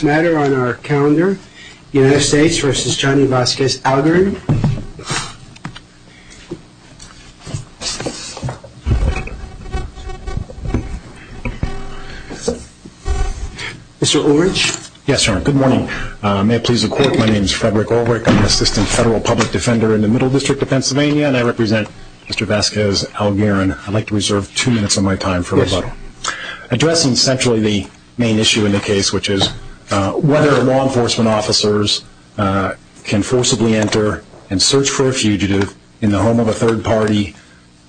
Good morning. May it please the court, my name is Frederick Ulrich. I'm an assistant federal public defender in the Middle District of Pennsylvania and I represent Mr. Vasquez-Algarin. I'd like to reserve two minutes of my time for rebuttal. Addressing centrally the main question, whether law enforcement officers can forcibly enter and search for a fugitive in the home of a third party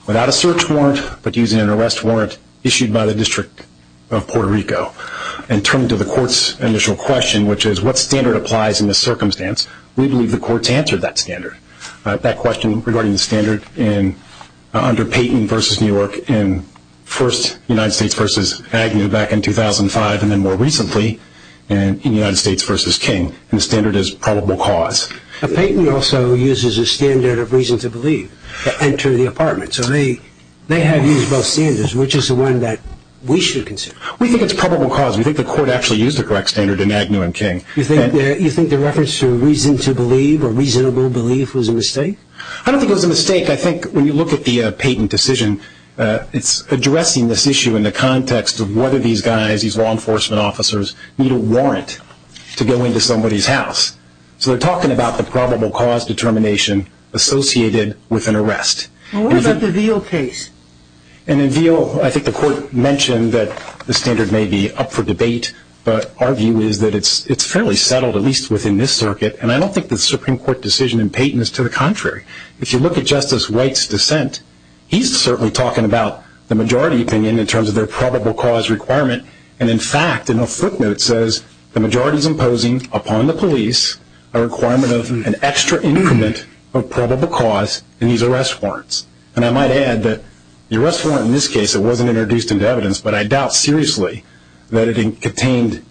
without a search warrant, but using an arrest warrant issued by the District of Puerto Rico. In terms of the court's initial question, which is what standard applies in this circumstance, we believe the court's answered that standard. That question regarding the standard under Payton v. New York in first United States v. Agnew back in 2005 and then more recently in United States v. King. The standard is probable cause. Payton also uses a standard of reason to believe to enter the apartment, so they have used both standards, which is the one that we should consider. We think it's probable cause. We think the court actually used the correct standard in Agnew and King. You think the reference to reason to believe or reasonable belief was a mistake? I don't think it was a mistake. I think when you look at the Payton decision, it's addressing this issue in the context of whether these guys, these law enforcement officers, need a warrant to go into somebody's house. So they're talking about the probable cause determination associated with an arrest. What about the Veal case? And in Veal, I think the court mentioned that the standard may be up for debate, but our view is that it's fairly settled, at least within this circuit. And I don't think the Supreme Court decision in Payton is to the contrary. If you look at Justice White's dissent, he's certainly talking about the majority opinion in terms of their probable cause requirement, and in fact, in a footnote, says the majority is imposing upon the police a requirement of an extra increment of probable cause in these arrest warrants. And I might add that the arrest warrant in this case, it wasn't introduced into evidence, but I doubt seriously that it contained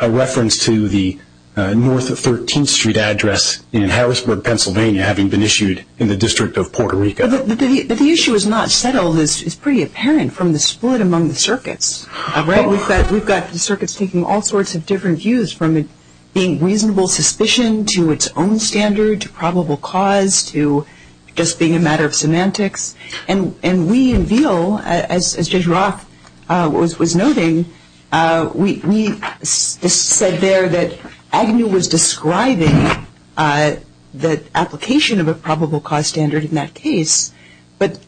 a reference to the North 13th Street address in Harrisburg, Pennsylvania, having been issued in the District of Puerto Rico. But the issue is not settled. It's pretty apparent from the split among the circuits. We've got the circuits taking all sorts of different views, from being reasonable suspicion to its own standard to probable cause to just being a matter of semantics. And we in Veal, as Judge Roth was noting, we said there that Agnew was describing the application of a probable cause standard in that case, but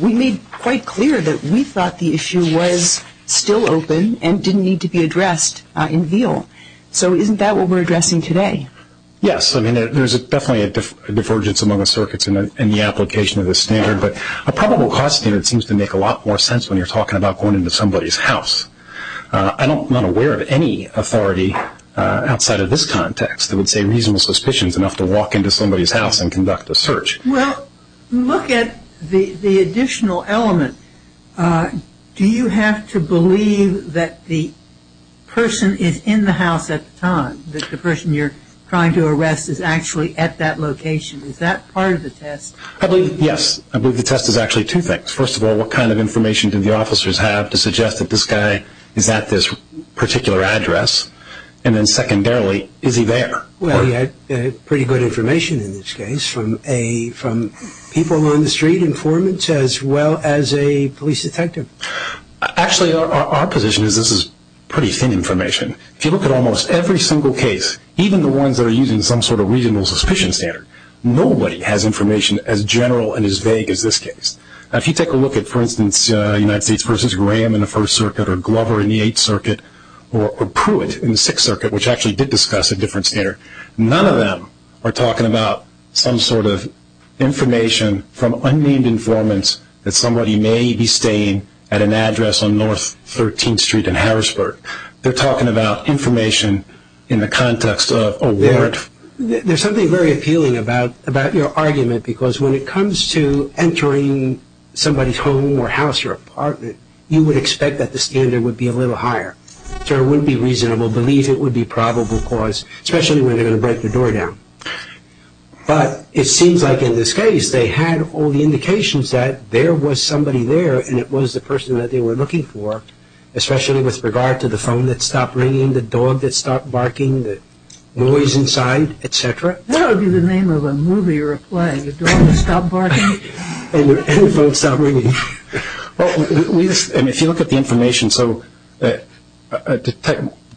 we made quite clear that we thought the issue was still open and didn't need to be addressed in Veal. So isn't that what we're addressing today? Yes. I mean, there's definitely a divergence among the circuits in the application of this standard, but a probable cause standard seems to make a lot more sense when you're talking about going into somebody's house. I'm not aware of any authority outside of this context that would say reasonable suspicion is enough to walk into somebody's house and conduct a search. Well, look at the additional element. Do you have to believe that the person is in the house at the time, that the person you're trying to arrest is actually at that location? Is that part of the test? Yes. I believe the test is actually two things. First of all, what kind of information do the officers have to suggest that this guy is at this particular address? And then secondarily, is he there? Well, you had pretty good information in this case from people on the street, informants as well as a police detective. Actually, our position is this is pretty thin information. If you look at almost every single case, even the ones that are using some sort of reasonable suspicion standard, nobody has information as general and as vague as this case. Now, if you take a look at, for instance, United States v. Graham in the First Circuit or Glover in the Eighth Circuit or Pruitt in the Sixth Circuit, which actually did discuss a different standard, none of them are talking about some sort of information from unnamed informants that somebody may be staying at an address on North 13th Street in Harrisburg. They're talking about information in the context of a warrant. There's something very appealing about your argument because when it comes to entering somebody's home or house or apartment, you would expect that the standard would be a little higher. So it wouldn't be reasonable to believe it would be probable cause, especially when they're going to break the door down. But it seems like in this case, they had all the indications that there was somebody there and it was the person that they were looking for, especially with regard to the phone that was inside, etc. What would be the name of a movie or a play? The door would stop barking. And the phone would stop ringing. Well, if you look at the information, so the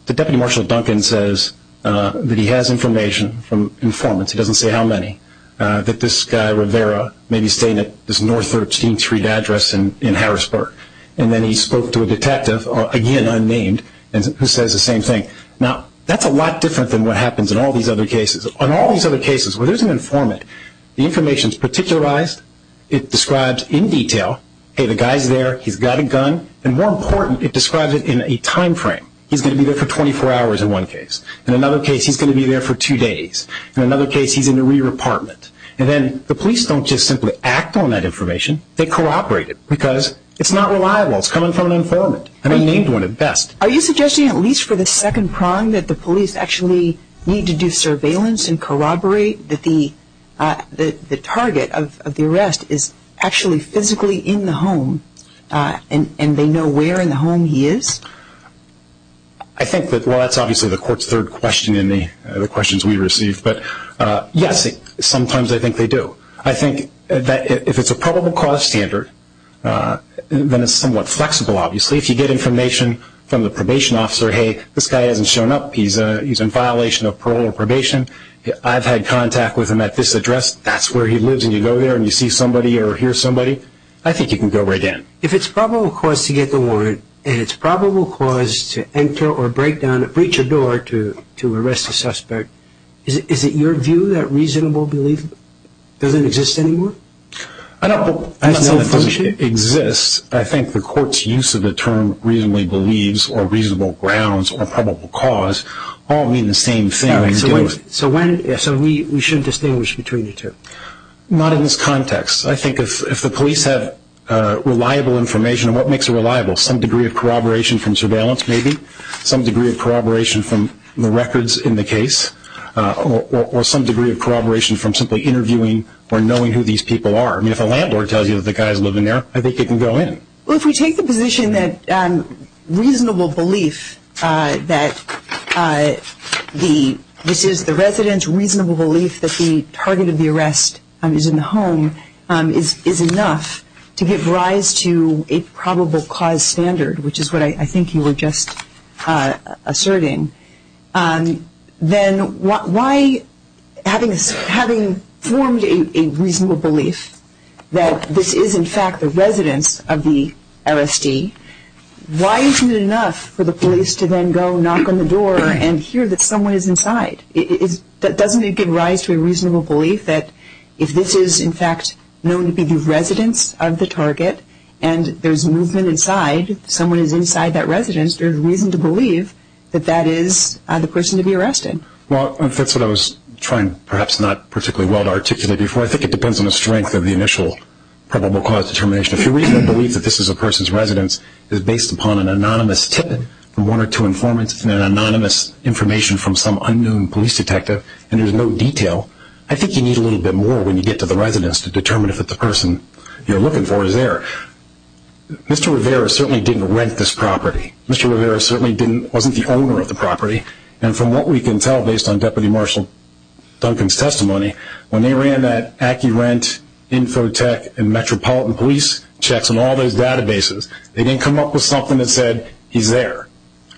Deputy Marshal Duncan says that he has information from informants, he doesn't say how many, that this guy, Rivera, may be staying at this North 13th Street address in Harrisburg. And then he spoke to a detective, again unnamed, who says the same thing. Now, that's a lot different than what happens in all these other cases. On all these other cases, where there's an informant, the information is particularized, it describes in detail, hey, the guy's there, he's got a gun, and more important, it describes it in a time frame. He's going to be there for 24 hours in one case. In another case, he's going to be there for two days. In another case, he's in a rear apartment. And then the police don't just simply act on that information, they cooperate it because it's not reliable. It's coming from an informant, an unnamed one at best. Are you suggesting, at least for the second prong, that the police actually need to do surveillance and corroborate that the target of the arrest is actually physically in the home, and they know where in the home he is? I think that, well, that's obviously the court's third question in the questions we received. But yes, sometimes I think they do. I think that if it's a probable cause standard, then it's somewhat flexible, obviously. If you get information from the probation officer, hey, this guy hasn't shown up, he's in violation of parole or probation, I've had contact with him at this address, that's where he lives, and you go there and you see somebody or hear somebody, I think you can go right in. If it's probable cause to get the warrant, and it's probable cause to enter or break down a breacher door to arrest a suspect, is it your view that reasonable belief doesn't exist anymore? I don't know that it doesn't exist. I think the court's use of the term reasonably believes or reasonable grounds or probable cause all mean the same thing. So we should distinguish between the two? Not in this context. I think if the police have reliable information, and what makes it reliable? Some degree of corroboration from surveillance, maybe, some degree of corroboration from the records in the case, or some degree of corroboration from simply interviewing or knowing who these people are. If a landlord tells you the guy's living there, I think you can go in. If we take the position that reasonable belief that this is the resident's reasonable belief that the target of the arrest is in the home is enough to give rise to a probable cause standard, which is what I think you were just asserting, then why, having formed a reasonable belief that this is, in fact, the residence of the LSD, why isn't it enough for the police to then go knock on the door and hear that someone is inside? Doesn't it give rise to a reasonable belief that if this is, in fact, known to be the residence of the target, and there's movement inside, someone is inside that residence, there's reason to believe that that is the person to be arrested? Well, that's what I was trying, perhaps not particularly well to articulate before. I think it depends on the strength of the initial probable cause determination. If your reasonable belief that this is a person's residence is based upon an anonymous tip from one or two informants and an anonymous information from some unknown police detective, and there's no detail, I think you need a little bit more when you get to the residence to determine if the person you're looking for is there. Mr. Rivera certainly didn't rent this property. Mr. Rivera certainly wasn't the owner of the property, and from what we can tell based on Deputy Marshal Duncan's testimony, when they ran that AccuRent, Infotech, and Metropolitan Police checks on all those databases, they didn't come up with something that said, he's there.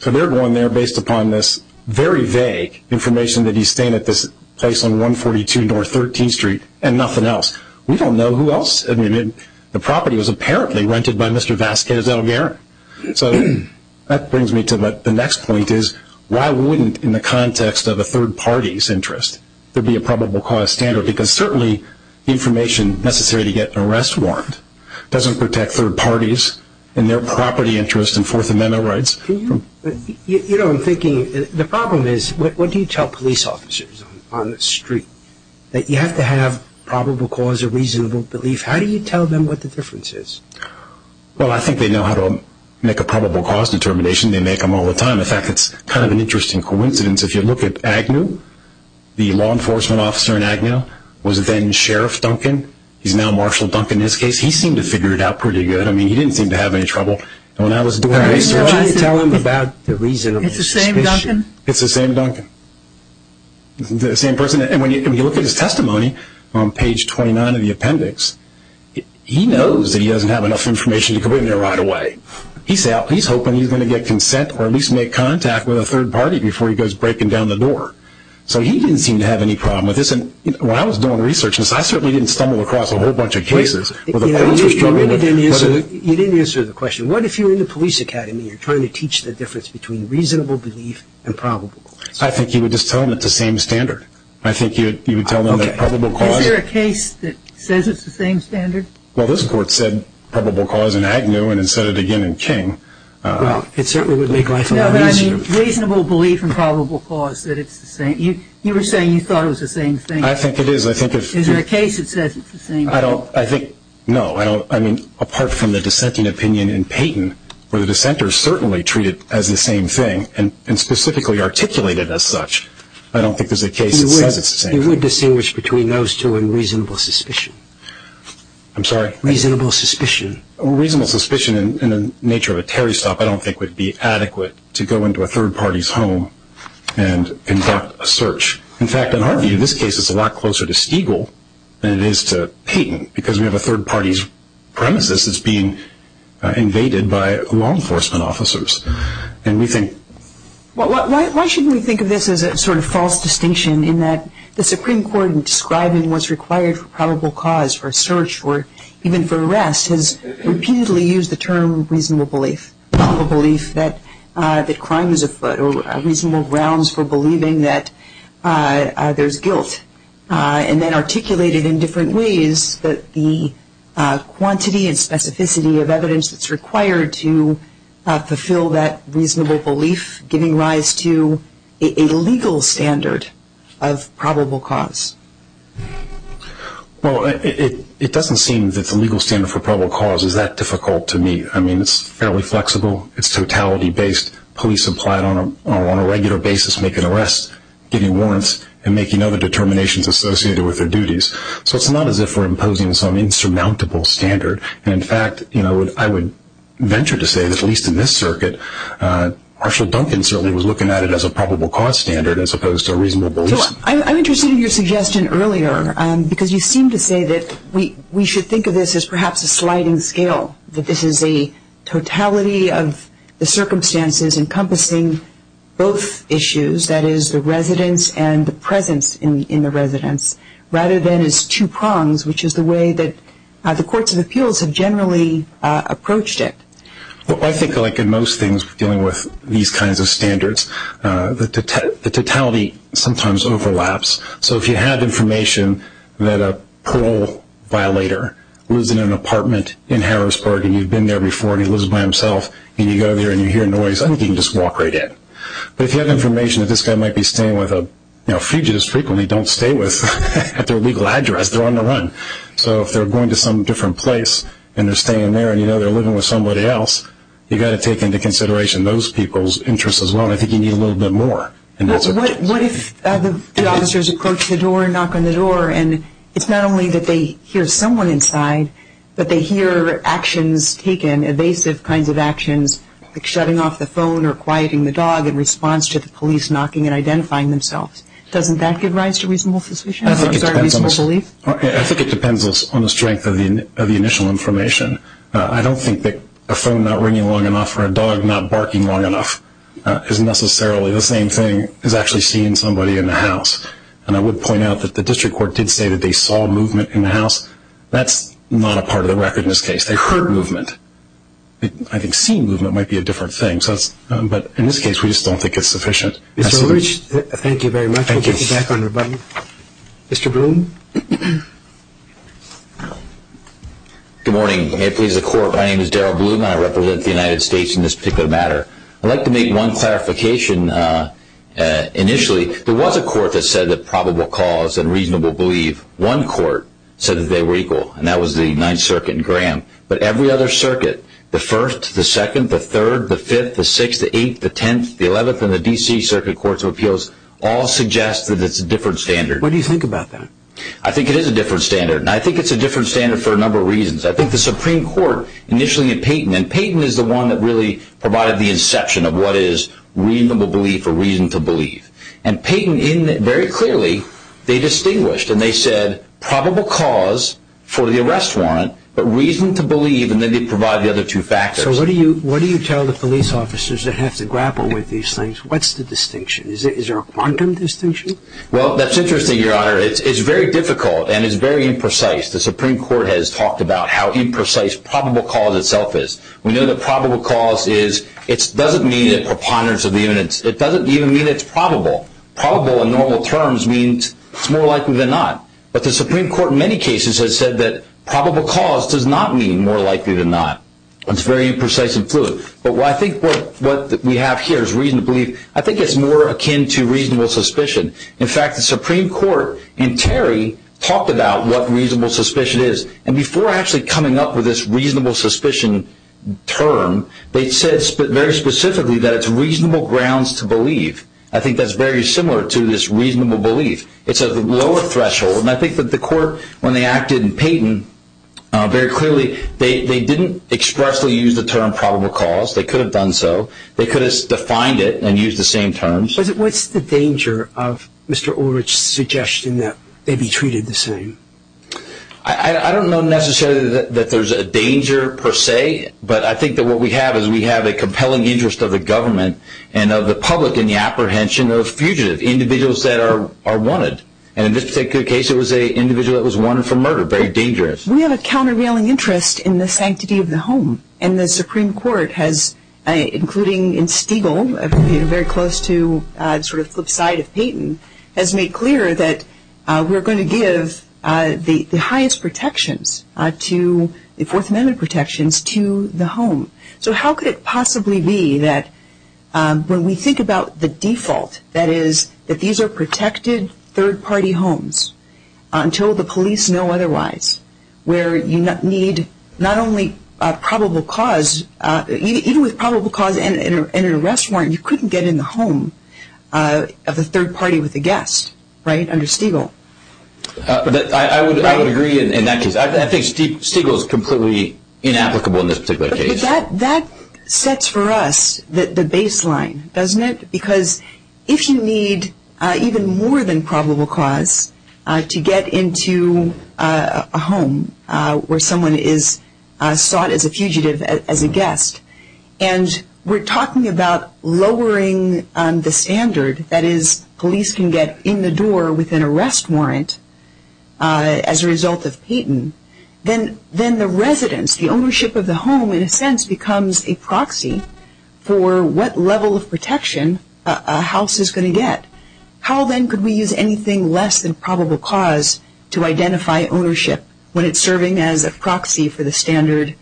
So they're going there based upon this very vague information that he's staying at this place on 142 North 13th Street and nothing else. We don't know who else. The property was apparently rented by Mr. Vasquez Delgaren. So that brings me to the next point is, why wouldn't, in the context of a third party's interest, there be a probable cause standard? Because certainly the information necessary to get an arrest warrant doesn't protect third parties and their property interests and Fourth Amendment rights. You know, I'm thinking, the problem is, what do you tell police officers on the street? You have to have probable cause or reasonable belief. How do you tell them what the difference is? Well, I think they know how to make a probable cause determination. They make them all the time. In fact, it's kind of an interesting coincidence. If you look at Agnew, the law enforcement officer in Agnew was then Sheriff Duncan. He's now Marshal Duncan in this case. He seemed to figure it out pretty good. I mean, he didn't seem to have any trouble. When I was doing my research, you tell them about the reasonable suspicion. It's the same Duncan? It's the same Duncan. The same person. And when you look at his testimony on page 29 of the appendix, he knows that he doesn't have enough information to go in there right away. He's hoping he's going to get consent or at least make contact with a third party before he goes breaking down the door. So he didn't seem to have any problem with this. And when I was doing research, I certainly didn't stumble across a whole bunch of cases. You didn't answer the question. What if you're in the police academy and you're trying to teach the difference between reasonable belief and probable cause? I think you would just tell them it's the same standard. I think you would tell them that probable cause... Is there a case that says it's the same standard? Well, this Court said probable cause in Agnew and it said it again in King. Well, it certainly would make life a lot easier. No, but I mean, reasonable belief and probable cause, that it's the same. You were saying you thought it was the same thing. I think it is. I think if... Is there a case that says it's the same thing? I don't. I think... No, I don't. I mean, apart from the dissenting opinion in Payton, where the dissenters certainly treat it as the same thing and specifically articulate it as such, I don't think there's a case that says it's the same thing. You would distinguish between those two and reasonable suspicion. I'm sorry? Reasonable suspicion. Reasonable suspicion in the nature of a Terry stop I don't think would be adequate to go into a third party's home and conduct a search. In fact, in our view, in this case, it's a lot closer to Stiegel than it is to Payton because we have a third party's premises that's being invaded by law enforcement officers. And we think... Well, why shouldn't we think of this as a sort of false distinction in that the Supreme Court, when it comes to probable cause or search or even for arrest, has repeatedly used the term reasonable belief, probable belief that crime is afoot or reasonable grounds for believing that there's guilt, and then articulated in different ways that the quantity and specificity of evidence that's required to fulfill that reasonable belief giving rise to a legal standard of probable cause? It doesn't seem that the legal standard for probable cause is that difficult to meet. I mean, it's fairly flexible. It's totality based. Police apply it on a regular basis, making arrests, giving warrants, and making other determinations associated with their duties. So it's not as if we're imposing some insurmountable standard. And in fact, I would venture to say, at least in this circuit, Marshall Duncan certainly was looking at it as a probable cause standard as opposed to a reasonable belief. I'm interested in your suggestion earlier, because you seem to say that we should think of this as perhaps a sliding scale, that this is a totality of the circumstances encompassing both issues, that is, the residence and the presence in the residence, rather than as two prongs, which is the way that the courts of appeals have generally approached it. Well, I think like in most things dealing with these kinds of standards, the totality sometimes overlaps. So if you have information that a parole violator lives in an apartment in Harrisburg, and you've been there before, and he lives by himself, and you go there and you hear noise, I think you can just walk right in. But if you have information that this guy might be staying with a fugitive, frequently don't stay with at their legal address. They're on the run. So if they're going to some different place, and they're staying there, and you know they're living with somebody else, you've got to take into consideration those people's interests as well. And I think you need a little bit more. What if the officers approach the door and knock on the door, and it's not only that they hear someone inside, but they hear actions taken, evasive kinds of actions, like shutting off the phone or quieting the dog in response to the police knocking and identifying themselves. Doesn't that give rise to reasonable suspicion? I think it depends on the strength of the initial information. I don't think that a phone not ringing long enough or a dog not barking long enough is necessarily the same thing as actually seeing somebody in the house. And I would point out that the district court did say that they saw movement in the house. That's not a part of the record in this case. They heard movement. I think seeing movement might be a different thing. But in this case, we just don't think it's sufficient. Thank you very much. Thank you. Mr. Bloom. Good morning. May it please the court. My name is Darrell Bloom. I represent the United States in this particular matter. I'd like to make one clarification. Initially, there was a court that said that probable cause and reasonable believe. One court said that they were equal, and that was the Ninth Circuit in Graham. But every other circuit, the First, the Second, the Third, the Fifth, the Sixth, the Eighth, the Tenth, the Eleventh, and the D.C. Circuit Courts of Appeals all suggest that it's a different standard. What do you think about that? I think it is a different standard. And I think it's a different standard for a number of reasons. I think the Supreme Court, initially in Payton, and Payton is the one that really provided the inception of what is reasonable belief or reason to believe. And Payton, very clearly, they distinguished. And they said probable cause for the arrest warrant, but reason to believe. And then they provide the other two factors. So what do you tell the police officers that have to grapple with these things? What's the distinction? Is there a quantum distinction? Well, that's interesting, Your Honor. It's very difficult, and it's very imprecise. The Supreme Court has talked about how imprecise probable cause itself is. We know that probable cause doesn't mean a preponderance of the evidence. It doesn't even mean it's probable. Probable, in normal terms, means it's more likely than not. But the Supreme Court, in many cases, has said that probable cause does not mean more likely than not. It's very imprecise and fluid. But I think what we have here is reason to believe. I think it's more akin to reasonable suspicion. In fact, the Supreme Court and Terry talked about what reasonable suspicion is. And before actually coming up with this reasonable suspicion term, they said very specifically that it's reasonable grounds to believe. I think that's very similar to this reasonable belief. It's a lower threshold. And I think that the court, when they acted in Payton, very clearly, they didn't expressly use the term probable cause. They could have done so. They could have defined it and used the same terms. What's the danger of Mr. Ulrich's suggestion that they be treated the same? I don't know necessarily that there's a danger, per se. But I think that what we have is we have a compelling interest of the government and of the public in the apprehension of fugitives, individuals that are wanted. And in this particular case, it was an individual that was wanted for murder. Very dangerous. We have a countervailing interest in the sanctity of the home. And the Supreme Court has, including in Stegall, very close to the flip side of Payton, has given the highest protections to the Fourth Amendment protections to the home. So how could it possibly be that when we think about the default, that is that these are protected third-party homes until the police know otherwise, where you need not only probable cause, even with probable cause and an arrest warrant, you couldn't get in the home of the third party with a guest, right, under Stegall. I would agree in that case. I think Stegall is completely inapplicable in this particular case. But that sets for us the baseline, doesn't it? Because if you need even more than probable cause to get into a home where someone is sought as a fugitive as a guest, and we're talking about lowering the standard, that police can get in the door with an arrest warrant as a result of Payton, then the residence, the ownership of the home, in a sense, becomes a proxy for what level of protection a house is going to get. How, then, could we use anything less than probable cause to identify ownership when it's serving as a proxy for the standard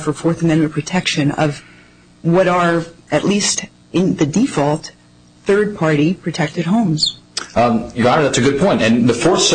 for Fourth Amendment protection of what are, at least in the default, third-party protected homes? Your Honor, that's a good point. And the Fourth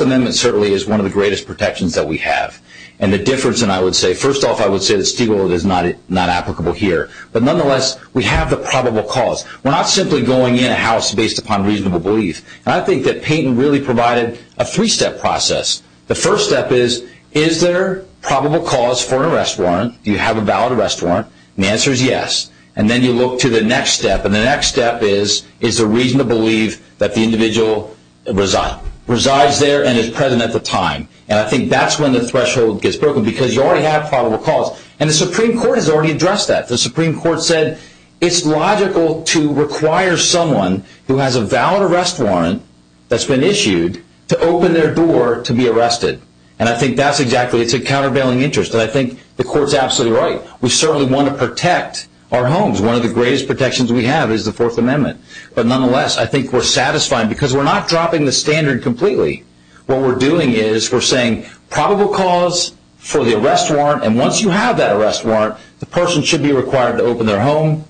Amendment certainly is one of the greatest protections that we have. And the difference, and I would say, first off, I would say that Stegall is not applicable here. But nonetheless, we have the probable cause. We're not simply going in a house based upon reasonable belief. And I think that Payton really provided a three-step process. The first step is, is there probable cause for an arrest warrant? Do you have a valid arrest warrant? The answer is yes. And then you look to the next step. And the next step is, is there reason to believe that the individual resides there and is present at the time? And I think that's when the threshold gets broken, because you already have probable cause. And the Supreme Court has already addressed that. The Supreme Court said it's logical to require someone who has a valid arrest warrant that's been issued to open their door to be arrested. And I think that's exactly it. It's a countervailing interest. And I think the Court's absolutely right. We certainly want to protect our homes. One of the greatest protections we have is the Fourth Amendment. But nonetheless, I think we're satisfied, because we're not dropping the standard completely. What we're doing is we're saying probable cause for the arrest warrant. And once you have that arrest warrant, the person should be required to open their home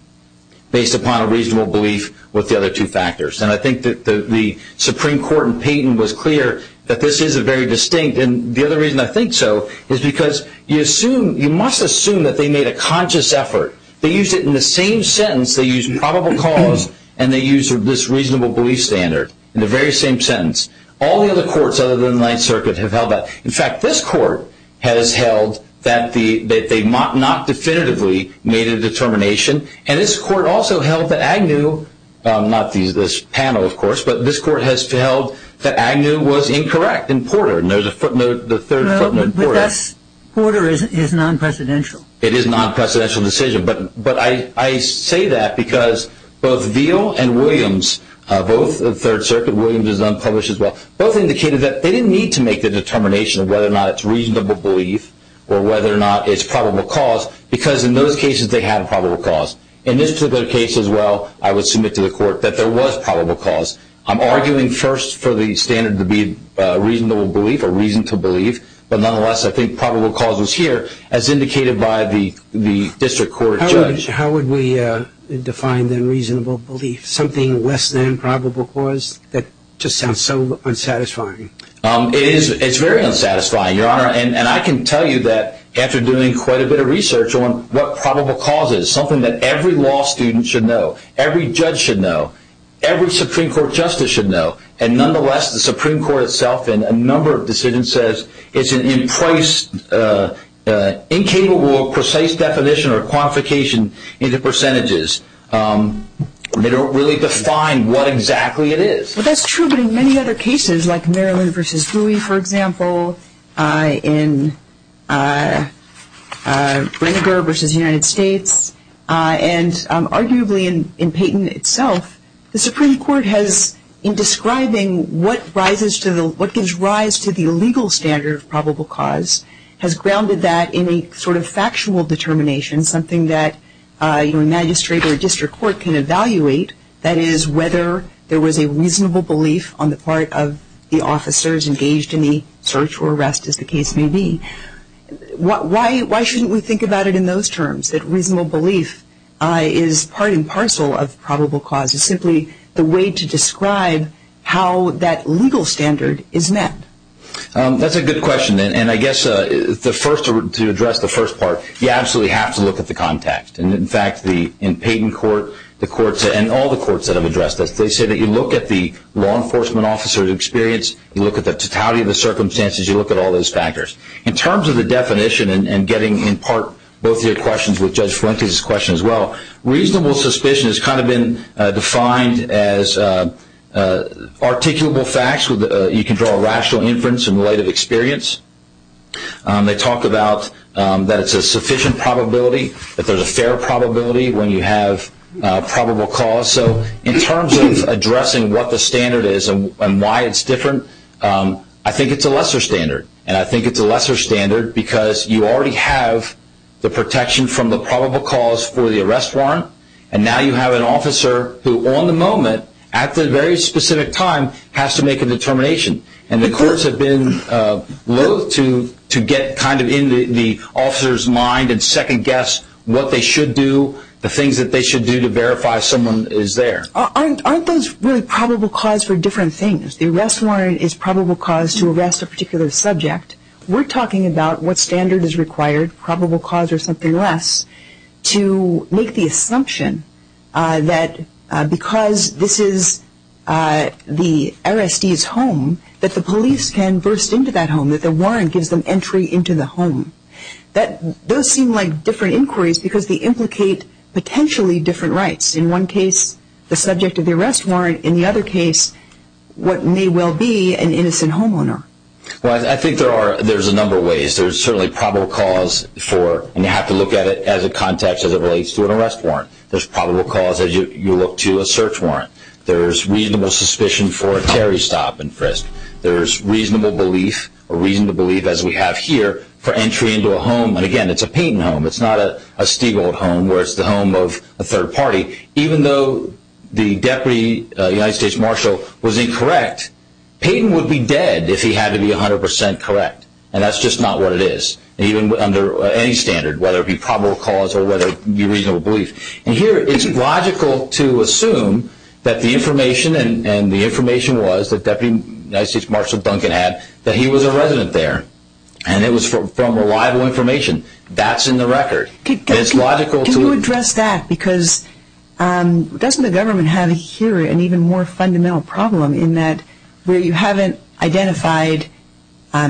based upon a reasonable belief with the other two factors. And I think that the Supreme Court in Payton was clear that this is a very distinct. And the other reason I think so is because you must assume that they made a conscious effort. They used it in the same sentence. They used probable cause. And they used this reasonable belief standard in the very same sentence. All the other courts other than the Ninth Circuit have held that. In fact, this court has held that they not definitively made a determination. And this court also held that Agnew, not this panel, of course, but this court has held that Agnew was incorrect in Porter. And there's a footnote, the third footnote, Porter is non-precedential. It is a non-precedential decision. But I say that because both Veal and Williams, both of Third Circuit, Williams is unpublished as well, both indicated that they didn't need to make the determination of whether or not it's reasonable belief or whether or not it's probable cause. Because in those cases, they had probable cause. In this particular case as well, I would submit to the court that there was probable cause. I'm arguing first for the standard to be reasonable belief or reason to believe. But nonetheless, I think probable cause was here as indicated by the district court judge. How would we define the reasonable belief? Something less than probable cause? That just sounds so unsatisfying. It's very unsatisfying, Your Honor. And I can tell you that after doing quite a bit of research on what probable cause is, something that every law student should know, every judge should know, every Supreme Court justice should know. And nonetheless, the Supreme Court itself in a number of decisions says, it's an in-price, incapable of precise definition or quantification into percentages. They don't really define what exactly it is. Well, that's true. But in many other cases, like Maryland versus Bowie, for example, in Reniger versus the Supreme Court has, in describing what gives rise to the illegal standard of probable cause, has grounded that in a sort of factual determination, something that a magistrate or a district court can evaluate, that is, whether there was a reasonable belief on the part of the officers engaged in the search or arrest, as the case may be. Why shouldn't we think about it in those terms, that reasonable belief is part and parcel of probable cause? It's simply the way to describe how that legal standard is met. That's a good question. And I guess to address the first part, you absolutely have to look at the context. And in fact, in Payton Court, the courts and all the courts that have addressed this, they say that you look at the law enforcement officer's experience, you look at the totality of the circumstances, you look at all those factors. In terms of the definition and getting in part both your questions with Judge Fuentes' question as well, reasonable suspicion has kind of been defined as articulable facts. You can draw a rational inference in light of experience. They talk about that it's a sufficient probability, that there's a fair probability when you have probable cause. So in terms of addressing what the standard is and why it's different, I think it's a lesser standard. And I think it's a lesser standard because you already have the protection from the arrest warrant, and now you have an officer who on the moment, at the very specific time, has to make a determination. And the courts have been loath to get kind of in the officer's mind and second guess what they should do, the things that they should do to verify someone is there. Aren't those really probable cause for different things? The arrest warrant is probable cause to arrest a particular subject. We're talking about what standard is required, probable cause or something less, to make the assumption that because this is the arrestee's home, that the police can burst into that home, that the warrant gives them entry into the home. Those seem like different inquiries because they implicate potentially different rights. In one case, the subject of the arrest warrant. In the other case, what may well be an innocent homeowner. Well, I think there's a number of ways. There's certainly probable cause for, and you have to look at it as a context, as it relates to an arrest warrant. There's probable cause as you look to a search warrant. There's reasonable suspicion for a Terry stop and frisk. There's reasonable belief or reason to believe, as we have here, for entry into a home. And again, it's a Payton home. It's not a Stiegold home where it's the home of a third party. Even though the Deputy United States Marshal was incorrect, Payton would be dead if he had to be 100% correct. And that's just not what it is. Even under any standard, whether it be probable cause or whether it be reasonable belief. And here, it's logical to assume that the information, and the information was that Deputy United States Marshal Duncan had, that he was a resident there. And it was from reliable information. That's in the record. Can you address that? Because doesn't the government have here an even more fundamental problem in that where you haven't identified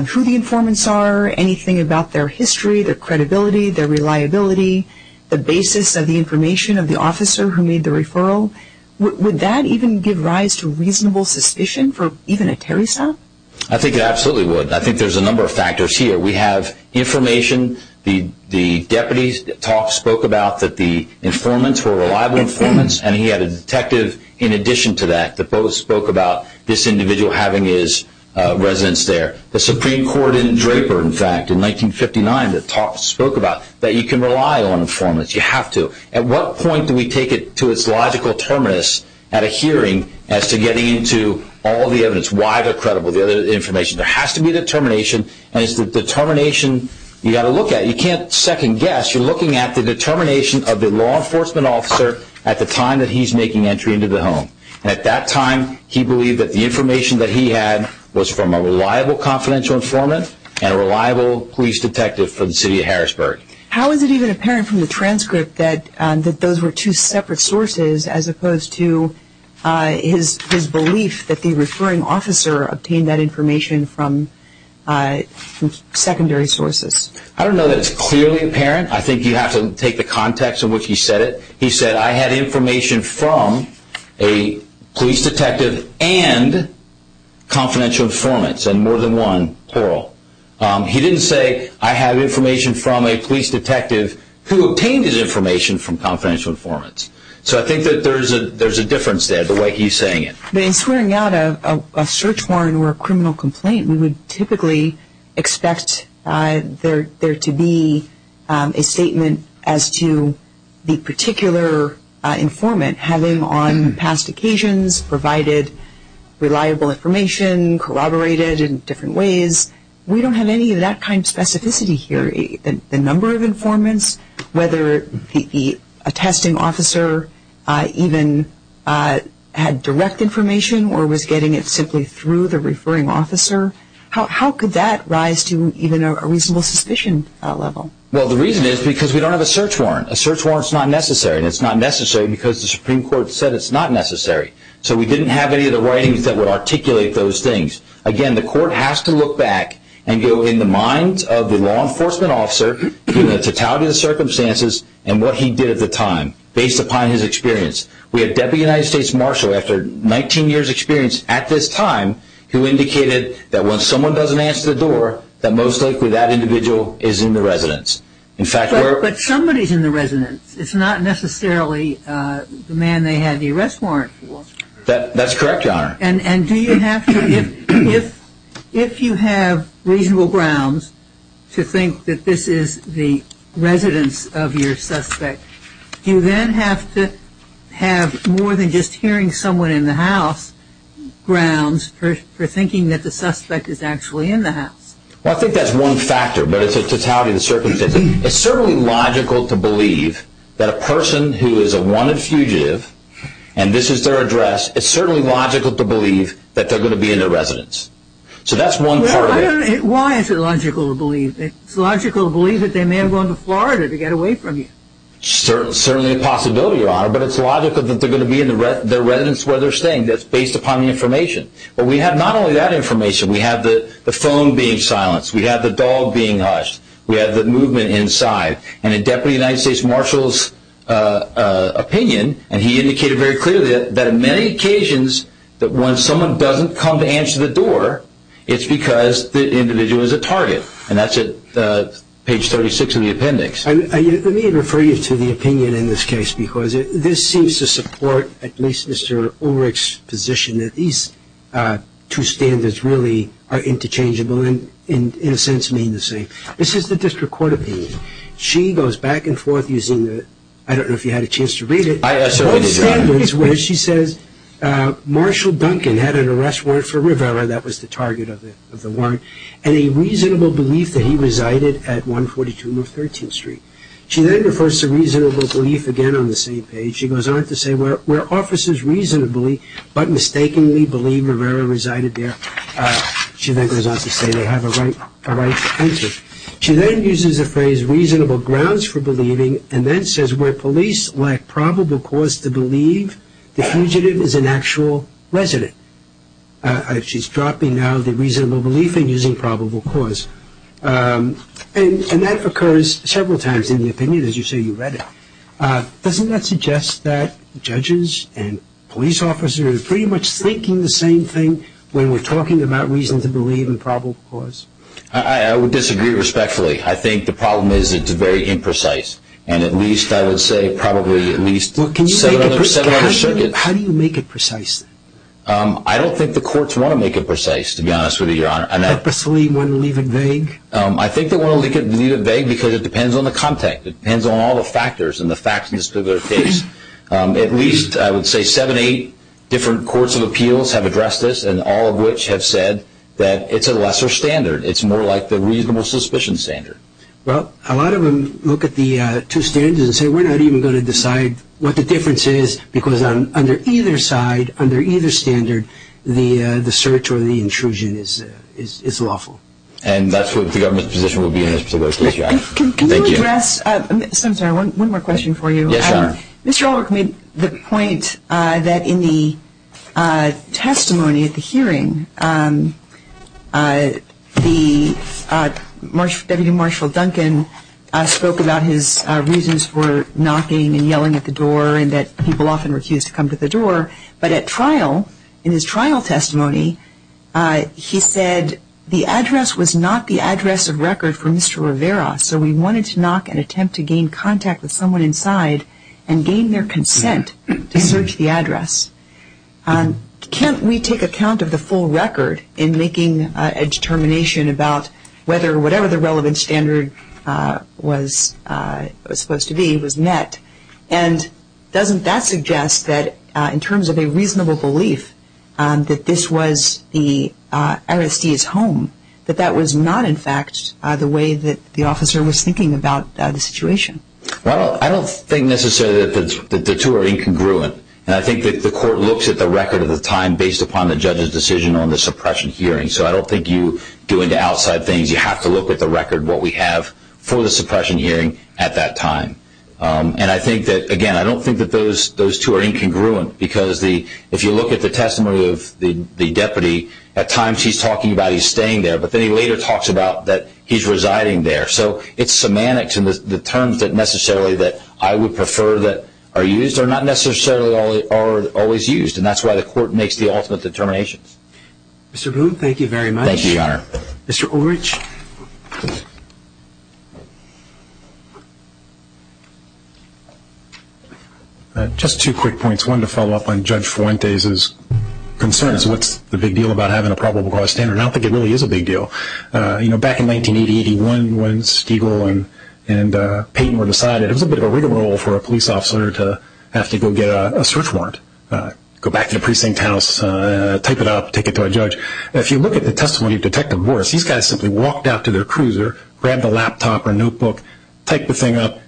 who the informants are, anything about their history, their credibility, their reliability, the basis of the information of the officer who made the referral. Would that even give rise to reasonable suspicion for even a Terry stop? I think it absolutely would. I think there's a number of factors here. We have information. The Deputy's talk spoke about that the informants were reliable informants. And he had a detective in addition to that, that both spoke about this individual having his residence there. The Supreme Court in Draper, in fact, in 1959, that spoke about that you can rely on informants. You have to. At what point do we take it to its logical terminus at a hearing as to getting into all the evidence? Why they're credible, the other information? There has to be determination. And it's the determination you got to look at. You can't second guess. You're looking at the determination of the law enforcement officer at the time that he's making entry into the home. And at that time, he believed that the information that he had was from a reliable confidential informant and a reliable police detective for the city of Harrisburg. How is it even apparent from the transcript that those were two separate sources as opposed to his belief that the referring officer obtained that information from secondary sources? I don't know that it's clearly apparent. I think you have to take the context in which he said it. He said, I had information from a police detective and confidential informants, and more than one parole. He didn't say, I have information from a police detective who obtained his information from confidential informants. So I think that there's a difference there, the way he's saying it. But in swearing out a search warrant or a criminal complaint, we would typically expect there to be a statement as to the particular informant having on past occasions provided reliable information, corroborated in different ways. We don't have any of that kind of specificity here. The number of informants, whether a testing officer even had direct information or was getting it simply through the referring officer, how could that rise to even a reasonable suspicion level? Well, the reason is because we don't have a search warrant. A search warrant is not necessary, and it's not necessary because the Supreme Court said it's not necessary. So we didn't have any of the writings that would articulate those things. Again, the court has to look back and go in the minds of the law enforcement officer, the totality of the circumstances and what he did at the time based upon his experience. We have Deputy United States Marshal, after 19 years experience at this time, who indicated that when someone doesn't answer the door, that most likely that individual is in the residence. But somebody's in the residence. It's not necessarily the man they had the arrest warrant for. That's correct, Your Honor. And do you have to, if you have reasonable grounds to think that this is the residence of your suspect, do you then have to have more than just hearing someone in the house grounds for thinking that the suspect is actually in the house? I think that's one factor, but it's a totality of the circumstances. It's certainly logical to believe that a person who is a wanted fugitive, and this is their address, it's certainly logical to believe that they're going to be in the residence. So that's one part of it. Why is it logical to believe? It's logical to believe that they may have gone to Florida to get away from you. Certainly a possibility, Your Honor. But it's logical that they're going to be in their residence where they're staying. That's based upon the information. But we have not only that information. We have the phone being silenced. We have the dog being hushed. We have the movement inside. And in Deputy United States Marshal's opinion, and he indicated very clearly that on many occasions, that when someone doesn't come to answer the door, it's because the individual is a target. And that's at page 36 of the appendix. Let me refer you to the opinion in this case, because this seems to support at least Mr. Ulrich's position that these two standards really are interchangeable and in a sense mean the same. This is the district court opinion. She goes back and forth using the, I don't know if you had a chance to read it, standards where she says, Marshal Duncan had an arrest warrant for Rivera, that was the target of the warrant, and a reasonable belief that he resided at 142 North 13th Street. She then refers to reasonable belief again on the same page. She goes on to say, where officers reasonably, but mistakenly, believe Rivera resided there. She then goes on to say they have a right to answer. She then uses the phrase reasonable grounds for believing, and then says where police lack probable cause to believe, the fugitive is an actual resident. She's dropping now the reasonable belief and using probable cause. And that occurs several times in the opinion as you say you read it. Doesn't that suggest that judges and police officers pretty much thinking the same thing when we're talking about reason to believe in probable cause? I would disagree respectfully. I think the problem is it's very imprecise. And at least I would say probably at least 700 circuits. How do you make it precise? I don't think the courts want to make it precise to be honest with you, Your Honor. Purposely want to leave it vague? I think they want to leave it vague because it depends on the content. It depends on all the factors and the facts in this particular case. At least I would say seven, eight different courts of appeals have addressed this and all of which have said that it's a lesser standard. It's more like the reasonable suspicion standard. Well, a lot of them look at the two standards and say we're not even going to decide what the difference is because under either side, under either standard, the search or the intrusion is lawful. And that's what the government's position will be in this particular case, Your Honor. Can you address, I'm sorry, one more question for you. Yes, Your Honor. Mr. Ulrich made the point that in the testimony at the hearing, the Deputy Marshal Duncan spoke about his reasons for knocking and yelling at the door and that people often refuse to come to the door. But at trial, in his trial testimony, he said the address was not the address of record for Mr. Rivera so he wanted to knock and attempt to gain contact with someone inside and gain their consent to search the address. Can't we take account of the full record in making a determination about whether or whatever the relevant standard was supposed to be was met? And doesn't that suggest that in terms of a reasonable belief that this was the arrestee's home, that that was not, in fact, the way that the officer was thinking about the situation? Well, I don't think necessarily that the two are incongruent. And I think that the court looks at the record of the time based upon the judge's decision on the suppression hearing. So I don't think you go into outside things. You have to look at the record, what we have for the suppression hearing at that time. And I think that, again, I don't think that those two are incongruent because if you look at the testimony of the deputy, at times he's talking about he's staying there, but then he later talks about that he's residing there. So it's semantics and the terms that necessarily that I would prefer that are used are not necessarily always used. And that's why the court makes the ultimate determinations. Mr. Boone, thank you very much. Thank you, Your Honor. Mr. Ulrich. Just two quick points. One, to follow up on Judge Fuentes' concerns, what's the big deal about having a probable cause standard? I don't think it really is a big deal. Back in 1980, 81, when Stiegel and Payton were decided, it was a bit of a rigmarole for a police officer to have to go get a search warrant, go back to the precinct house, type it up, take it to a judge. If you look at the testimony of Detective Morris, these guys simply walked out to their cruiser, grabbed a laptop or notebook, take the thing up,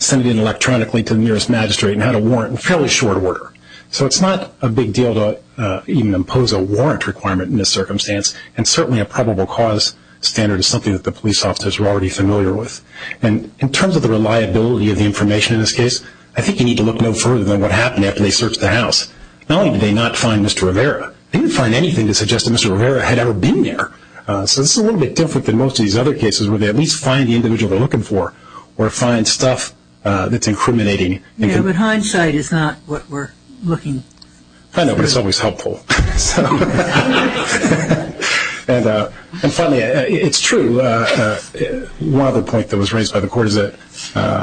send it in electronically to the nearest magistrate and had a warrant in fairly short order. So it's not a big deal to even impose a warrant requirement in this circumstance. And certainly a probable cause standard is something that the police officers were already familiar with. And in terms of the reliability of the information in this case, I think you need to look no further than what happened after they searched the house. Not only did they not find Mr. Rivera, they didn't find anything to suggest that Mr. Rivera had ever been there. So this is a little bit different than most of these other cases where they at least find the individual they're looking for or find stuff that's incriminating. Yeah, but hindsight is not what we're looking for. I know, but it's always helpful. And finally, it's true. One other point that was raised by the court is that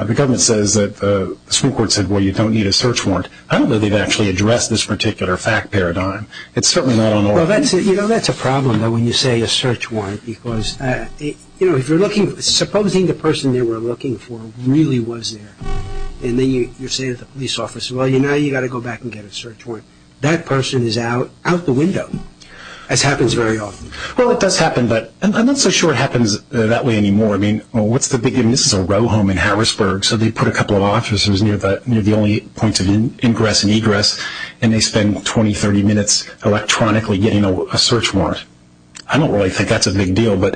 the government says that the Supreme Court said, well, you don't need a search warrant. I don't know that they've actually addressed this particular fact paradigm. It's certainly not on the law. Well, that's a problem, though, when you say a search warrant, because if you're looking, supposing the person they were looking for really was there and then you're saying to the police officer, well, now you got to go back and get a search warrant. That person is out the window. This happens very often. Well, it does happen, but I'm not so sure it happens that way anymore. I mean, what's the big deal? This is a row home in Harrisburg, so they put a couple of officers near the only points of ingress and egress, and they spend 20, 30 minutes electronically getting a search warrant. I don't really think that's a big deal, but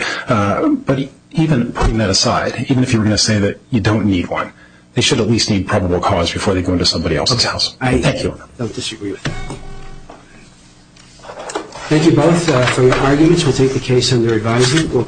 even putting that aside, even if you were going to say that you don't need one, they should at least need probable cause before they go into somebody else's house. I don't disagree with that. Thank you both for your arguments. We'll take the case under advising.